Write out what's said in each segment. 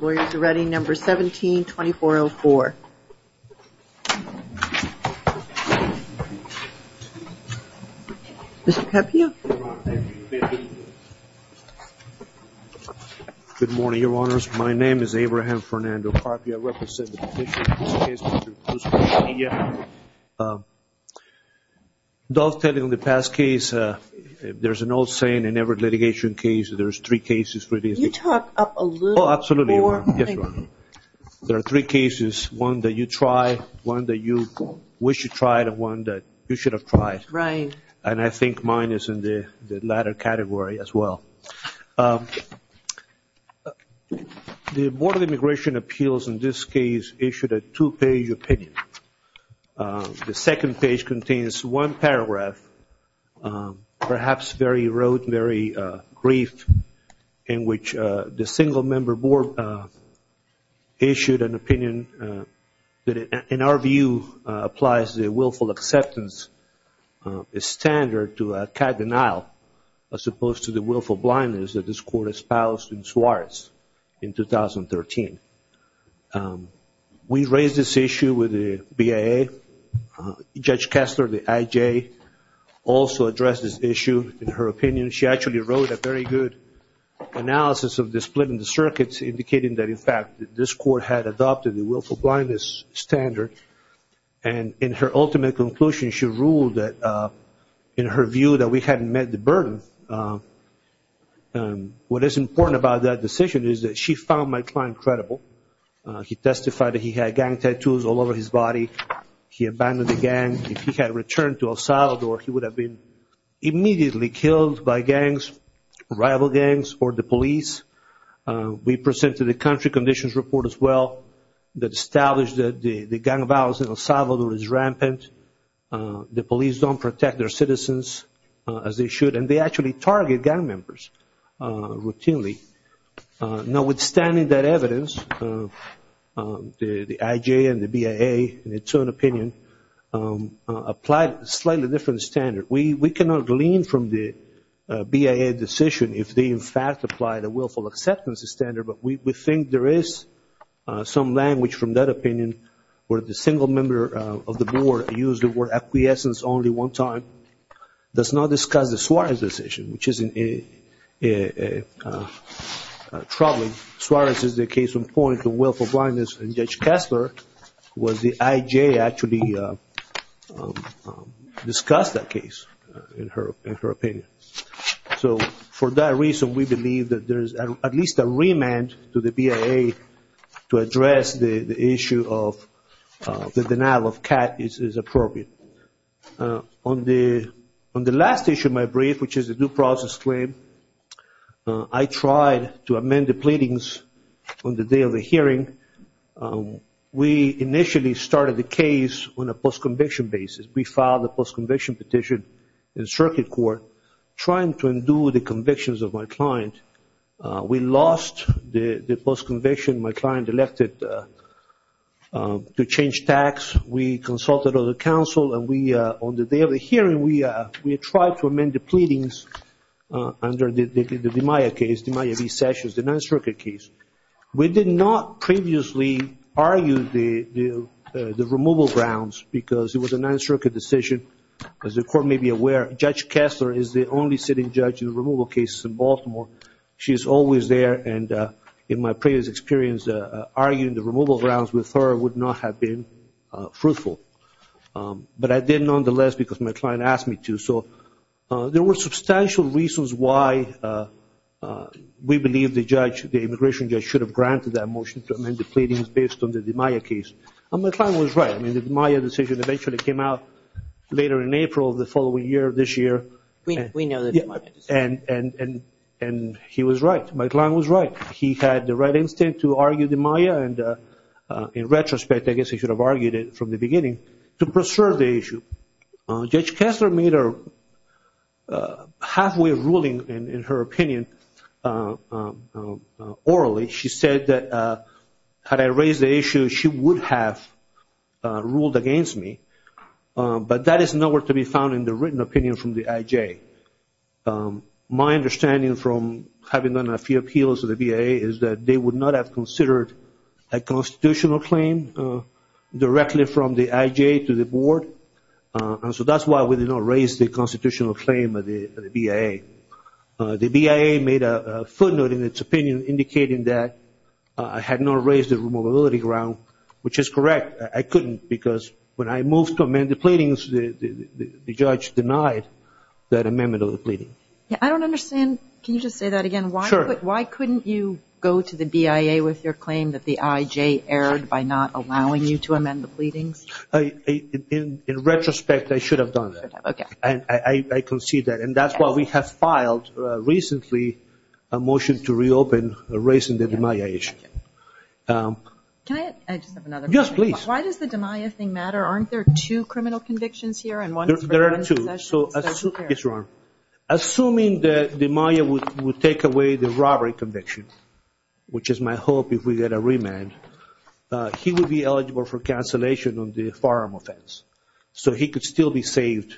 Lawyers are ready, number 17-2404. Mr. Papio? Good morning, Your Honors. My name is Abraham Fernando Papio. I represent the petition in this case, Mr. Quintanilla. Those telling the past case, there's an old saying in every litigation case, there's three cases for these. Could you talk up a little? Oh, absolutely, Your Honor. There are three cases, one that you try, one that you wish you tried, and one that you should have tried. Right. And I think mine is in the latter category as well. The Board of Immigration Appeals in this case issued a two-page opinion. The second page contains one paragraph, perhaps very rude, very brief, in which the single-member board issued an opinion that, in our view, applies the willful acceptance standard to a CAD denial, as opposed to the willful blindness that this Court espoused in Suarez in 2013. We raised this issue with the BIA. Judge Kessler, the IJ, also addressed this issue in her opinion. She actually wrote a very good analysis of the split in the circuits, indicating that, in fact, this Court had adopted the willful blindness standard. And in her ultimate conclusion, she ruled that, in her view, that we hadn't met the burden. What is important about that decision is that she found my client credible. He testified that he had gang tattoos all over his body. He abandoned the gang. If he had returned to El Salvador, he would have been immediately killed by gangs, rival gangs, or the police. We presented a country conditions report as well that established that the gang violence in El Salvador is rampant. The police don't protect their citizens as they should. And they actually target gang members routinely. Now, withstanding that evidence, the IJ and the BIA, in its own opinion, applied a slightly different standard. We cannot glean from the BIA decision if they, in fact, applied a willful acceptance standard, but we think there is some language from that opinion where the single member of the board that used the word acquiescence only one time does not discuss the Suarez decision, which is troubling. Suarez is the case in point of willful blindness, and Judge Kessler was the IJ that actually discussed that case, in her opinion. So for that reason, we believe that there is at least a remand to the BIA to address the issue of the denial of CAT is appropriate. On the last issue of my brief, which is a due process claim, I tried to amend the pleadings on the day of the hearing. We initially started the case on a post-conviction basis. We filed a post-conviction petition in circuit court trying to undo the convictions of my client. We lost the post-conviction. My client elected to change tax. We consulted other counsel, and on the day of the hearing, we tried to amend the pleadings under the DiMaia case, DiMaia v. Sessions, the Ninth Circuit case. We did not previously argue the removal grounds because it was a Ninth Circuit decision. As the court may be aware, Judge Kessler is the only sitting judge in removal cases in Baltimore. She is always there, and in my previous experience, arguing the removal grounds with her would not have been fruitful. But I did nonetheless because my client asked me to. So there were substantial reasons why we believe the judge, the immigration judge, should have granted that motion to amend the pleadings based on the DiMaia case. And my client was right. I mean, the DiMaia decision eventually came out later in April of the following year, this year. We know the DiMaia decision. And he was right. My client was right. He had the right instinct to argue DiMaia, and in retrospect, I guess he should have argued it from the beginning, to preserve the issue. Judge Kessler made a halfway ruling in her opinion. Orally, she said that had I raised the issue, she would have ruled against me. But that is nowhere to be found in the written opinion from the IJ. My understanding from having done a few appeals to the BIA is that they would not have considered a constitutional claim directly from the IJ to the board, and so that's why we did not raise the constitutional claim at the BIA. The BIA made a footnote in its opinion indicating that I had not raised the removability ground, which is correct. I couldn't because when I moved to amend the pleadings, the judge denied that amendment of the pleading. I don't understand. Can you just say that again? Sure. Why couldn't you go to the BIA with your claim that the IJ erred by not allowing you to amend the pleadings? In retrospect, I should have done that. Okay. And I concede that. And that's why we have filed recently a motion to reopen raising the DiMaia issue. Can I just have another question? Yes, please. Why does the DiMaia thing matter? Aren't there two criminal convictions here and one is for one possession? There are two. Yes, Your Honor. Assuming that DiMaia would take away the robbery conviction, which is my hope if we get a remand, he would be eligible for cancellation on the firearm offense. So he could still be saved.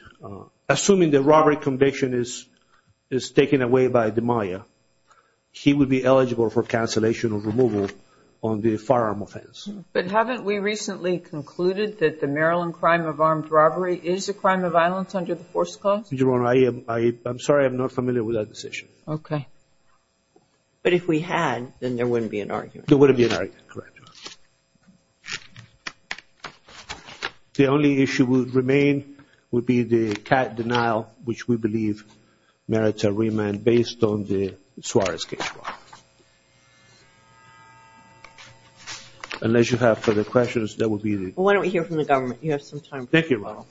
Assuming the robbery conviction is taken away by DiMaia, he would be eligible for cancellation or removal on the firearm offense. But haven't we recently concluded that the Maryland crime of armed robbery is a crime of violence under the Force Clause? Your Honor, I'm sorry. I'm not familiar with that decision. Okay. But if we had, then there wouldn't be an argument. There wouldn't be an argument, correct, Your Honor. The only issue that would remain would be the cat denial, which we believe merits a remand based on the Suarez case, Your Honor. Unless you have further questions, that would be the... Why don't we hear from the government? You have some time. Thank you, Your Honor. Thank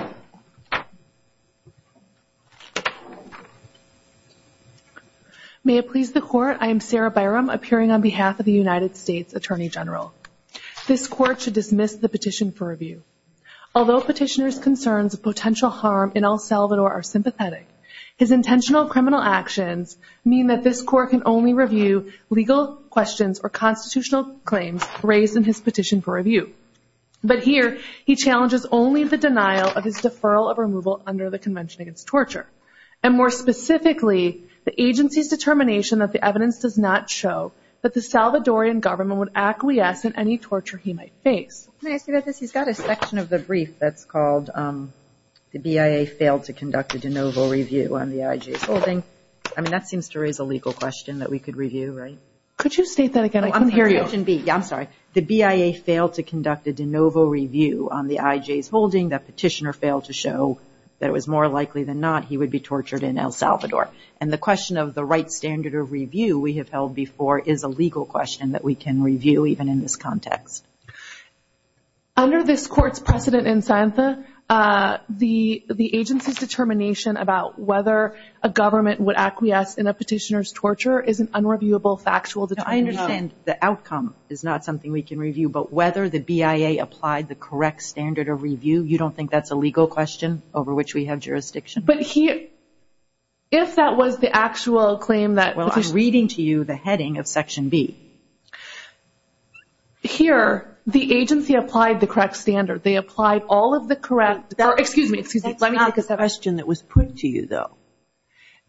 you. May it please the Court, I am Sarah Byram, appearing on behalf of the United States Attorney General. This Court should dismiss the petition for review. Although Petitioner's concerns of potential harm in El Salvador are sympathetic, his intentional criminal actions mean that this Court can only review legal questions or constitutional claims raised in his petition for review. But here, he challenges only the denial of his deferral of removal under the Convention Against Torture. And more specifically, the agency's determination that the evidence does not show that the Salvadorian government would acquiesce in any torture he might face. Can I ask you about this? He's got a section of the brief that's called, the BIA failed to conduct a de novo review on the IG's holding. I mean, that seems to raise a legal question that we could review, right? Could you state that again? I can't hear you. Question B. Yeah, I'm sorry. The BIA failed to conduct a de novo review on the IG's holding. The petitioner failed to show that it was more likely than not he would be tortured in El Salvador. And the question of the right standard of review we have held before is a legal question that we can review, even in this context. Under this Court's precedent in SANTA, the agency's determination about whether a government would acquiesce in a petitioner's torture is an unreviewable factual determination. I understand the outcome is not something we can review, but whether the BIA applied the correct standard of review, you don't think that's a legal question over which we have jurisdiction? But if that was the actual claim that petitioner. Well, I'm reading to you the heading of Section B. Here, the agency applied the correct standard. They applied all of the correct. Excuse me. That's not the question that was put to you, though.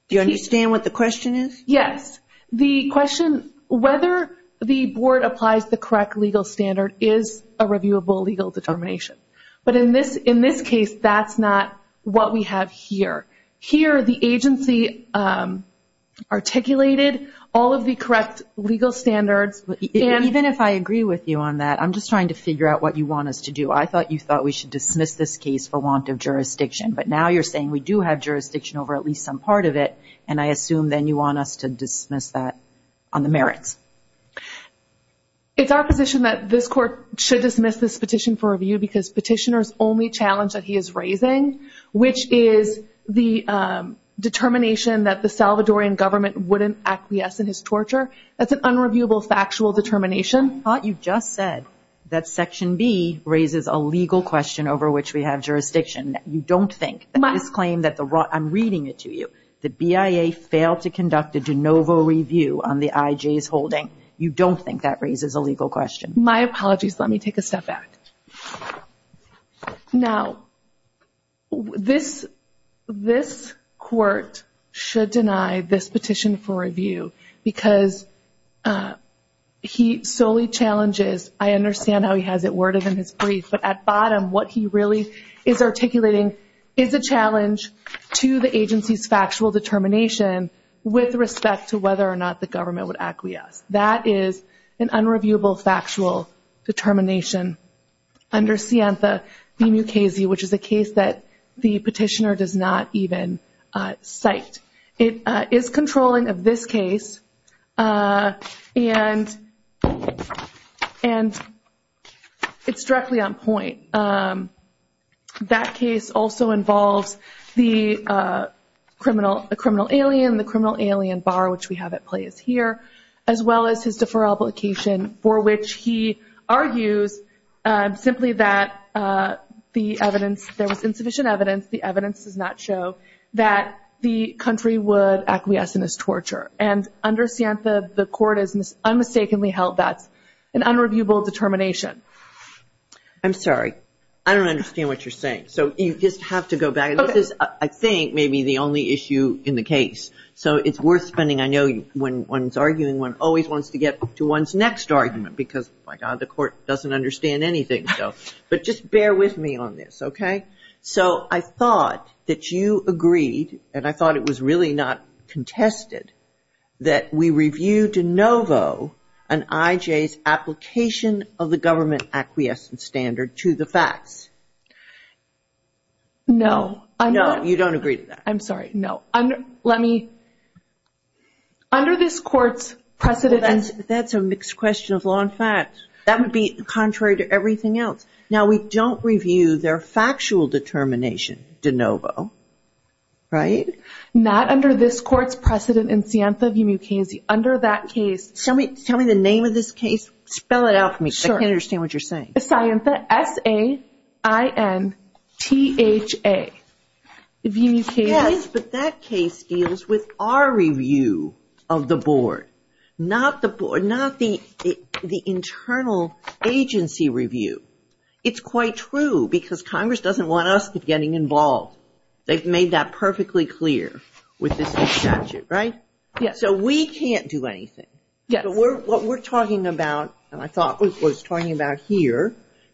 Do you understand what the question is? Yes. The question whether the Board applies the correct legal standard is a reviewable legal determination. But in this case, that's not what we have here. Here, the agency articulated all of the correct legal standards. Even if I agree with you on that, I'm just trying to figure out what you want us to do. I thought you thought we should dismiss this case for want of jurisdiction, but now you're saying we do have jurisdiction over at least some part of it, and I assume then you want us to dismiss that on the merits. It's our position that this Court should dismiss this petition for review because petitioner's only challenge that he is raising, which is the determination that the Salvadorian government wouldn't acquiesce in his torture. That's an unreviewable factual determination. I thought you just said that Section B raises a legal question over which we have jurisdiction. You don't think that this claim that the raw – I'm reading it to you. The BIA failed to conduct a de novo review on the IJ's holding. You don't think that raises a legal question. My apologies. Let me take a step back. Now, this Court should deny this petition for review because he solely challenges – I understand how he has it worded in his brief, but at bottom what he really is articulating is a challenge to the agency's factual determination with respect to whether or not the government would acquiesce. That is an unreviewable factual determination under Sienta v. Mukasey, which is a case that the petitioner does not even cite. It is controlling of this case, and it's directly on point. That case also involves the criminal alien, the criminal alien bar, which we have at play here, as well as his deferral obligation for which he argues simply that the evidence – the country would acquiesce in his torture. And under Sienta, the Court has unmistakably held that's an unreviewable determination. I'm sorry. I don't understand what you're saying. So you just have to go back. This is, I think, maybe the only issue in the case. So it's worth spending – I know when one's arguing, one always wants to get to one's next argument because, my God, the Court doesn't understand anything. But just bear with me on this, okay? So I thought that you agreed, and I thought it was really not contested, that we review de novo an IJ's application of the government acquiescent standard to the facts. No. No, you don't agree to that. I'm sorry. No. Let me – under this Court's precedent – That's a mixed question of law and facts. That would be contrary to everything else. Now, we don't review their factual determination de novo, right? Not under this Court's precedent in Sienta v. Mukasey. Under that case – Tell me the name of this case. Spell it out for me. Sure. I can't understand what you're saying. Sienta, S-A-I-N-T-H-A, v. Mukasey. It's quite true, because Congress doesn't want us getting involved. They've made that perfectly clear with this new statute, right? Yes. So we can't do anything. Yes. What we're talking about, and I thought was talking about here,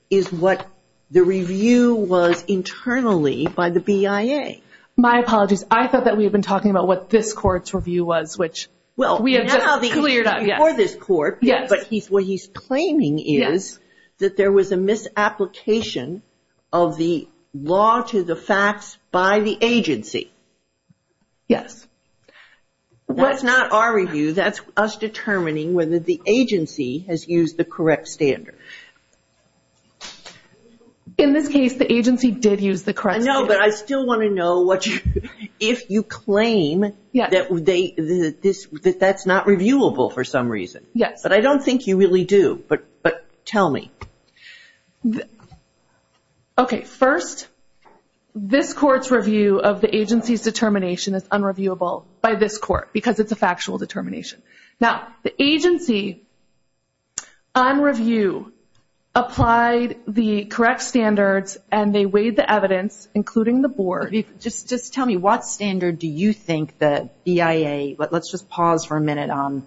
is what the review was internally by the BIA. My apologies. I thought that we had been talking about what this Court's review was, which we have just cleared up. But what he's claiming is that there was a misapplication of the law to the facts by the agency. Yes. That's not our review. That's us determining whether the agency has used the correct standard. In this case, the agency did use the correct standard. No, but I still want to know if you claim that that's not reviewable for some reason. Yes. But I don't think you really do. But tell me. Okay. First, this Court's review of the agency's determination is unreviewable by this Court, because it's a factual determination. Now, the agency, on review, applied the correct standards, and they weighed the evidence, including the Board. Just tell me, what standard do you think the BIA, but let's just pause for a minute on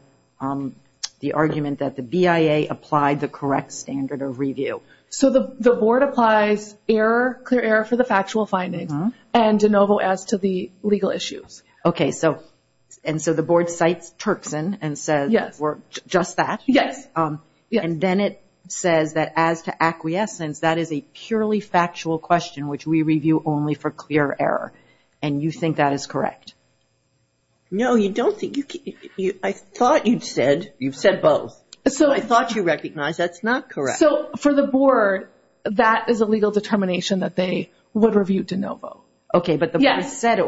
the argument that the BIA applied the correct standard of review? So the Board applies clear error for the factual findings, and de novo as to the legal issues. Okay. And so the Board cites Turkson and says just that. Yes. And then it says that as to acquiescence, that is a purely factual question, which we review only for clear error. And you think that is correct? No, you don't think. I thought you'd said, you've said both. I thought you recognized that's not correct. So for the Board, that is a legal determination that they would review de novo. Yes. But you said it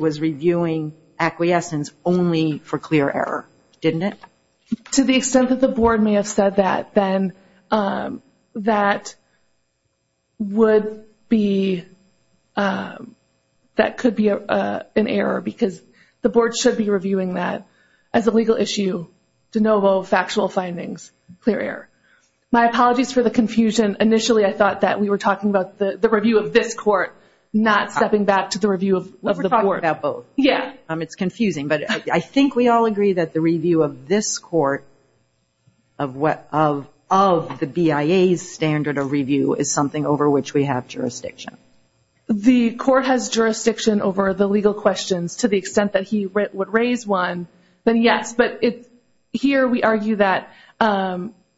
was reviewing acquiescence only for clear error, didn't it? To the extent that the Board may have said that, then that would be, that could be an error because the Board should be reviewing that as a legal issue, de novo, factual findings, clear error. My apologies for the confusion. Initially I thought that we were talking about the review of this court, not stepping back to the review of the court. We were talking about both. Yeah. It's confusing, but I think we all agree that the review of this court, of the BIA's standard of review, is something over which we have jurisdiction. The court has jurisdiction over the legal questions to the extent that he would raise one, then yes. Here we argue that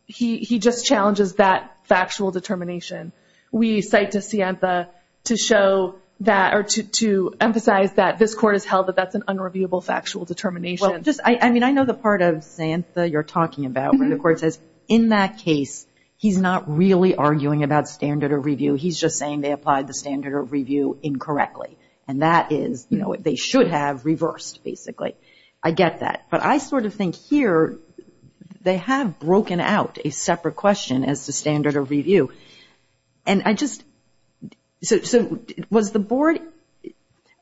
he just challenges that factual determination. We cite DeSanta to show that, or to emphasize that this court has held that that's an unreviewable factual determination. I know the part of DeSanta you're talking about where the court says, in that case he's not really arguing about standard of review. He's just saying they applied the standard of review incorrectly, and that is they should have reversed, basically. I get that. But I sort of think here they have broken out a separate question as to standard of review. And I just, so was the board,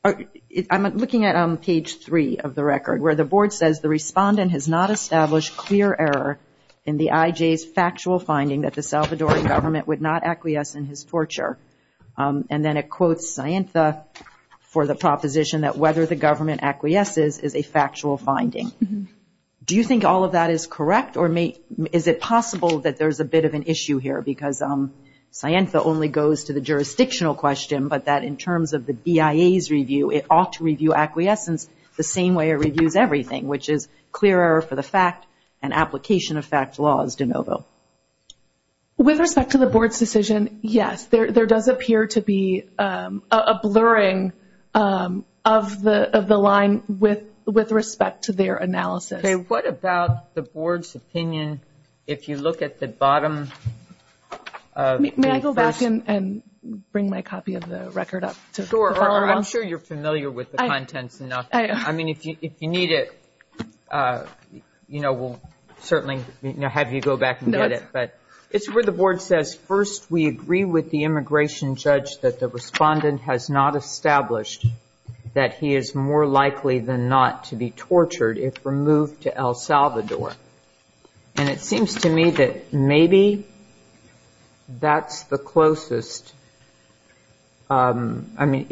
I'm looking at page three of the record, where the board says the respondent has not established clear error in the IJ's factual finding that the Salvadoran government would not acquiesce in his torture. And then it quotes Sienta for the proposition that whether the government acquiesces is a factual finding. Do you think all of that is correct, or is it possible that there's a bit of an issue here? Because Sienta only goes to the jurisdictional question, but that in terms of the BIA's review, it ought to review acquiescence the same way it reviews everything, which is clear error for the fact and application of fact laws de novo. With respect to the board's decision, yes. There does appear to be a blurring of the line with respect to their analysis. Okay. What about the board's opinion if you look at the bottom? May I go back and bring my copy of the record up to follow up? Sure. I'm sure you're familiar with the contents enough. If you need it, we'll certainly have you go back and get it. It's where the board says, first, we agree with the immigration judge that the respondent has not established that he is more likely than not to be tortured if removed to El Salvador. And it seems to me that maybe that's the closest. I mean,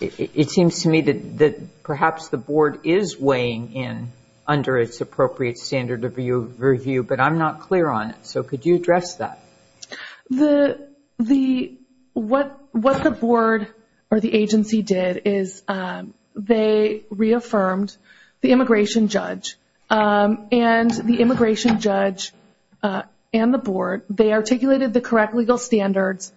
it seems to me that perhaps the board is weighing in under its appropriate standard of review, but I'm not clear on it, so could you address that? What the board or the agency did is they reaffirmed the immigration judge and the immigration judge and the board, they articulated the correct legal standards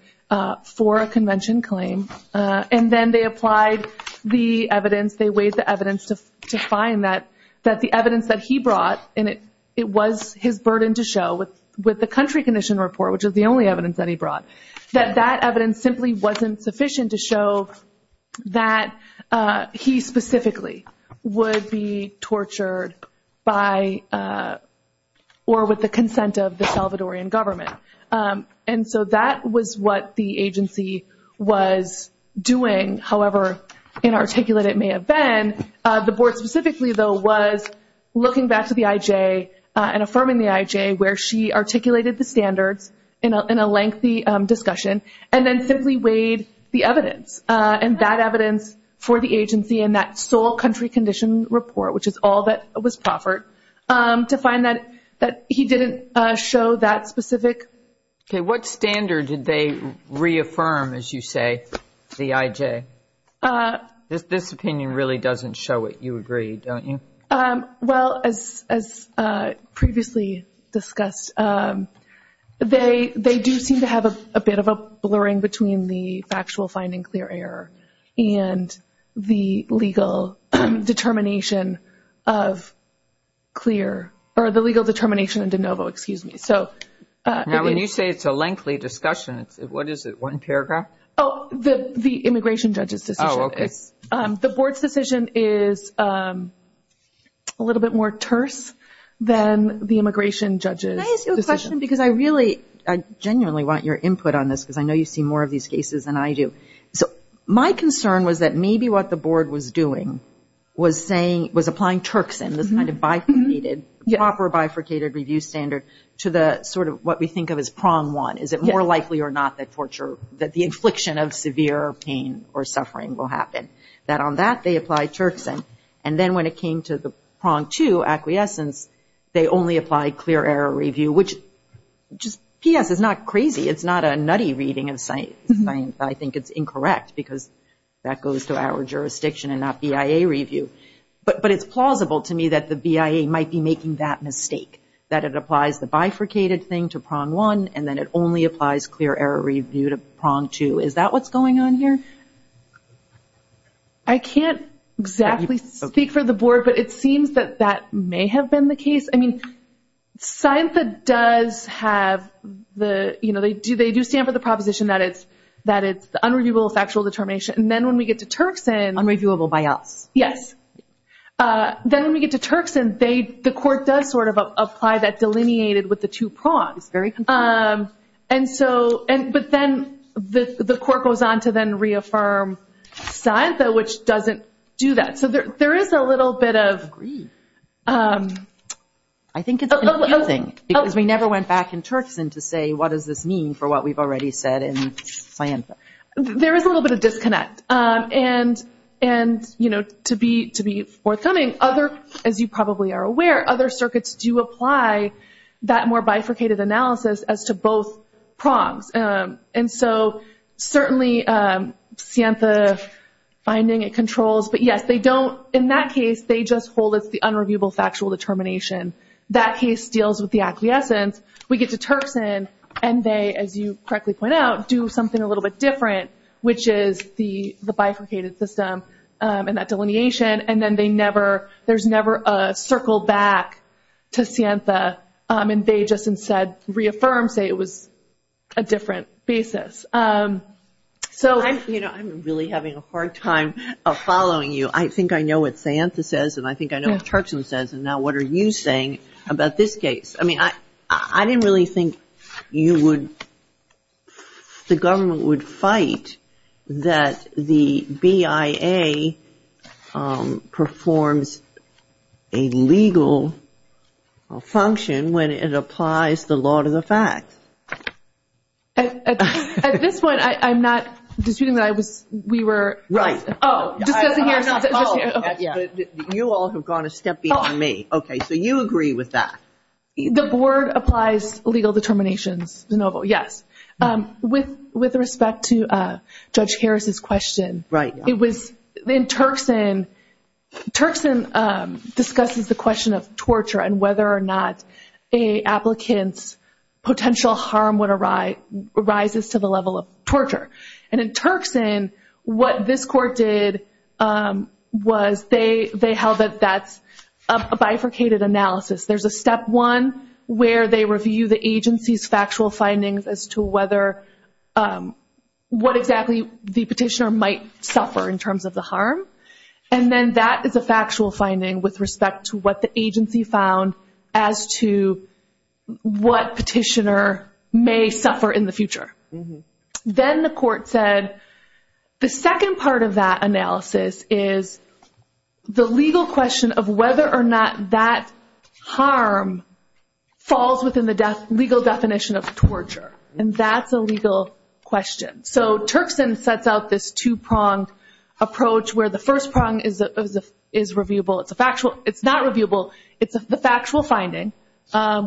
for a convention claim, and then they applied the evidence, they weighed the evidence to find that the evidence that he brought, and it was his burden to show with the country condition report, which is the only evidence that he brought, that that evidence simply wasn't sufficient to show that he specifically would be tortured by or with the consent of the Salvadorian government. And so that was what the agency was doing, however inarticulate it may have been. The board specifically, though, was looking back to the IJ and affirming the IJ, where she articulated the standards in a lengthy discussion, and then simply weighed the evidence, and that evidence for the agency and that sole country condition report, which is all that was proffered, to find that he didn't show that specific. Okay, what standard did they reaffirm, as you say, the IJ? This opinion really doesn't show it, you agree, don't you? Well, as previously discussed, they do seem to have a bit of a blurring between the factual finding clear error and the legal determination of clear, or the legal determination in de novo, excuse me. Now, when you say it's a lengthy discussion, what is it, one paragraph? Oh, the immigration judge's decision. Oh, okay. The board's decision is a little bit more terse than the immigration judge's decision. Can I ask you a question, because I really, I genuinely want your input on this, because I know you see more of these cases than I do. So my concern was that maybe what the board was doing was saying, was applying Turks in, this kind of bifurcated, proper bifurcated review standard to the sort of what we think of as prong one. Is it more likely or not that torture, that the infliction of severe pain or suffering will happen? That on that they apply Turks in, and then when it came to the prong two, acquiescence, they only apply clear error review, which, P.S., is not crazy. It's not a nutty reading of science. I think it's incorrect, because that goes to our jurisdiction and not BIA review. But it's plausible to me that the BIA might be making that mistake, that it applies the bifurcated thing to prong one, and then it only applies clear error review to prong two. Is that what's going on here? I can't exactly speak for the board, but it seems that that may have been the case. I mean, SINFA does have the, you know, they do stand for the proposition that it's unreviewable factual determination. And then when we get to Turks in. Unreviewable by us. Yes. Then when we get to Turks in, the court does sort of apply that delineated with the two prongs. It's very confusing. But then the court goes on to then reaffirm SINFA, which doesn't do that. So there is a little bit of. I agree. I think it's confusing, because we never went back in Turks in to say, what does this mean for what we've already said in SINFA? There is a little bit of disconnect. And, you know, to be forthcoming, as you probably are aware, other circuits do apply that more bifurcated analysis as to both prongs. And so certainly SINFA finding it controls. But, yes, they don't. In that case, they just hold it's the unreviewable factual determination. That case deals with the acquiescence. We get to Turks in, and they, as you correctly point out, do something a little bit different, which is the bifurcated system and that delineation, and then there's never a circle back to SINFA, and they just instead reaffirm, say it was a different basis. You know, I'm really having a hard time following you. I think I know what SINFA says, and I think I know what Turks in says, and now what are you saying about this case? I mean, I didn't really think you would, the government would fight that the BIA performs a legal function when it applies the law to the facts. At this point, I'm not disputing that we were. Right. Oh, discussing here. You all have gone a step beyond me. Okay, so you agree with that. The board applies legal determinations, DeNovo, yes. With respect to Judge Harris's question, it was in Turks in, Turks in discusses the question of torture and whether or not an applicant's potential harm would arise to the level of torture, and in Turks in, what this court did was they held that that's a bifurcated analysis. There's a step one where they review the agency's factual findings as to what exactly the petitioner might suffer in terms of the harm, and then that is a factual finding with respect to what the agency found as to what petitioner may suffer in the future. Then the court said the second part of that analysis is the legal question of whether or not that harm falls within the legal definition of torture, and that's a legal question. So Turks in sets out this two-pronged approach where the first prong is reviewable. It's a factual. It's not reviewable. It's a factual finding,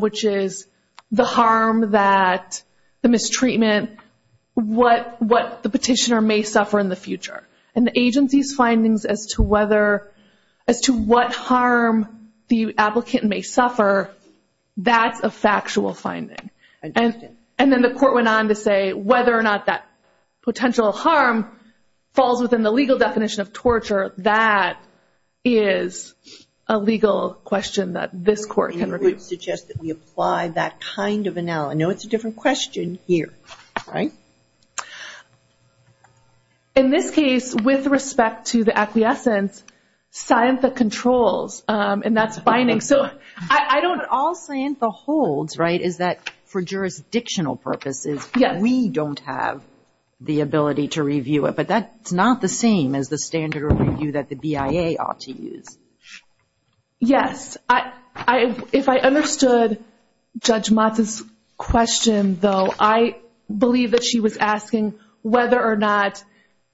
which is the harm that the mistreatment, what the petitioner may suffer in the future, and the agency's findings as to what harm the applicant may suffer, that's a factual finding. And then the court went on to say whether or not that potential harm falls within the legal definition of torture, that is a legal question that this court can review. And you would suggest that we apply that kind of analysis. I know it's a different question here, right? In this case, with respect to the acquiescence, Scientha controls, and that's binding. All Scientha holds is that for jurisdictional purposes, we don't have the ability to review it, but that's not the same as the standard of review that the BIA ought to use. Yes. If I understood Judge Motz's question, though, I believe that she was asking whether or not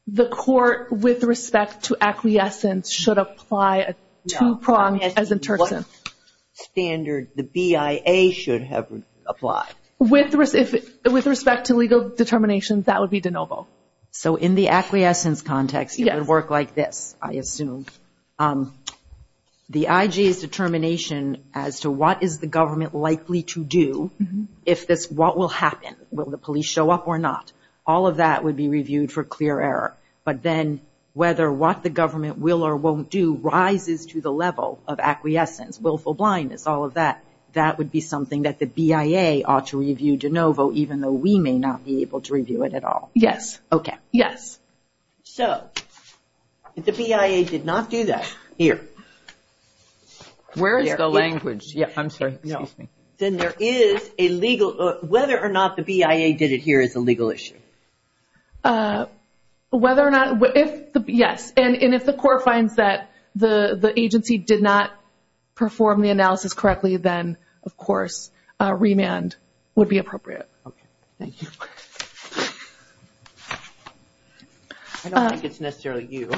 the court, with respect to acquiescence, should apply a two-prong as in Turks in. No, I'm asking what standard the BIA should have applied. With respect to legal determinations, that would be de novo. So in the acquiescence context, it would work like this, I assume. The IG's determination as to what is the government likely to do, what will happen, will the police show up or not, all of that would be reviewed for clear error. But then whether what the government will or won't do rises to the level of acquiescence, willful blindness, all of that, that would be something that the BIA ought to review de novo, even though we may not be able to review it at all. Yes. Okay. Yes. So if the BIA did not do that, here. Where is the language? I'm sorry. Excuse me. Then there is a legal, whether or not the BIA did it here is a legal issue. Whether or not, yes. And if the court finds that the agency did not perform the analysis correctly, then, of course, remand would be appropriate. Okay. Thank you. I don't think it's necessarily you. Do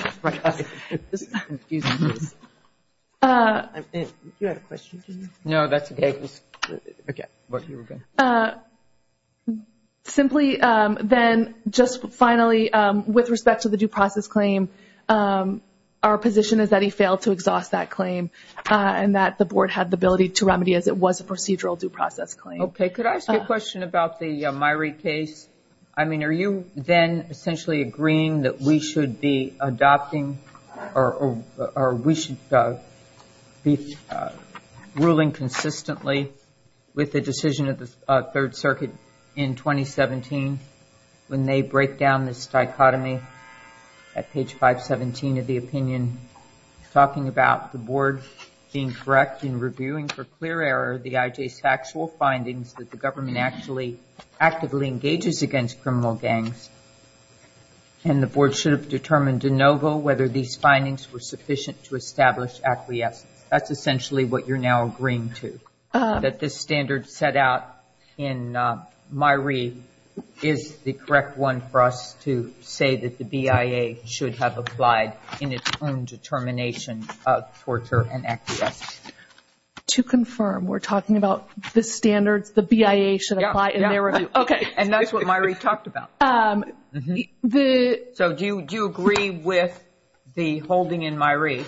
you have a question? No, that's okay. Simply then, just finally, with respect to the due process claim, our position is that he failed to exhaust that claim and that the Board had the ability to remedy it as it was a procedural due process claim. Okay. Could I ask you a question about the Myrie case? I mean, are you then essentially agreeing that we should be adopting or we should be ruling consistently with the decision of the Third Circuit in 2017 when they break down this dichotomy at page 517 of the opinion, talking about the Board being correct in reviewing for clear error the IJ's factual findings that the government actually actively engages against criminal gangs and the Board should have determined de novo whether these findings were sufficient to establish acquiescence. That's essentially what you're now agreeing to, that this standard set out in Myrie is the correct one for us to say that the BIA should have applied in its own determination of torture and acquiescence. To confirm, we're talking about the standards the BIA should apply in their review. Okay. And that's what Myrie talked about. So do you agree with the holding in Myrie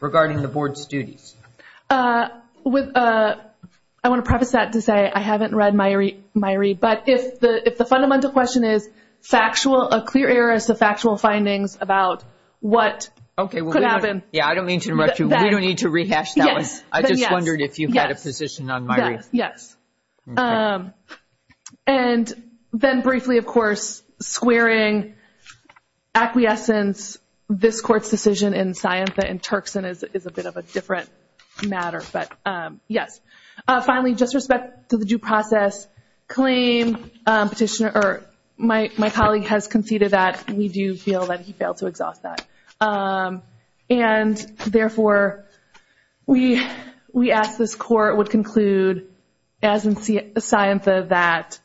regarding the Board's duties? I want to preface that to say I haven't read Myrie, but if the fundamental question is factual, a clear error is the factual findings about what could happen. Okay. I don't mean to interrupt you. We don't need to rehash that one. Yes. I just wondered if you had a position on Myrie. Yes. And then briefly, of course, squaring acquiescence, this Court's decision in Scientha and Turkson is a bit of a different matter, but yes. Finally, just respect to the due process claim. My colleague has conceded that. We do feel that he failed to exhaust that. And, therefore, we ask this Court would conclude as in Scientha that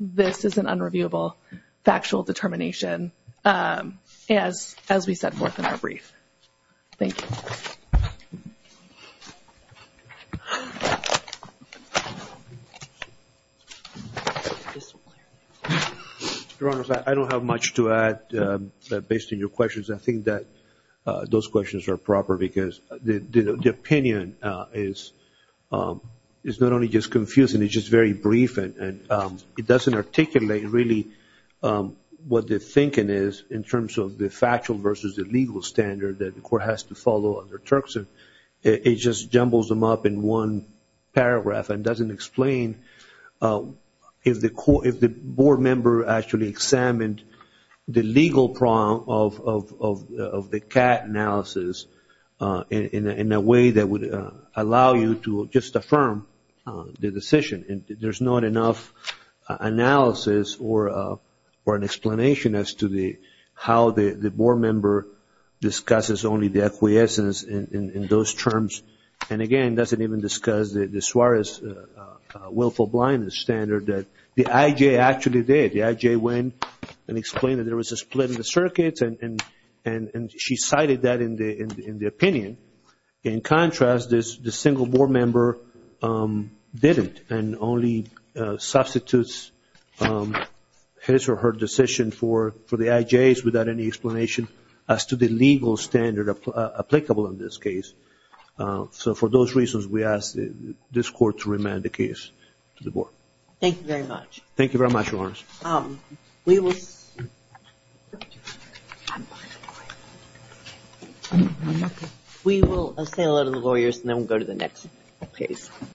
this is an unreviewable factual determination as we set forth in our brief. Thank you. Your Honor, I don't have much to add based on your questions. I think that those questions are proper because the opinion is not only just confusing, it's just very brief and it doesn't articulate really what the thinking is in terms of the factual versus the legal standard that the Court has to follow under Turkson. It just jumbles them up in one paragraph and doesn't explain if the Board member actually examined the legal prong of the CAT analysis in a way that would allow you to just affirm the decision. There's not enough analysis or an explanation as to how the Board member discusses only the acquiescence in those terms. And, again, doesn't even discuss the Suarez willful blindness standard that the IJ actually did. The IJ went and explained that there was a split in the circuits and she cited that in the opinion. In contrast, the single Board member didn't and only substitutes his or her decision for the IJs without any explanation as to the legal standard applicable in this case. So, for those reasons, we ask this Court to remand the case to the Board. Thank you very much. Thank you very much, Your Honor. We will say hello to the lawyers and then we'll go to the next case.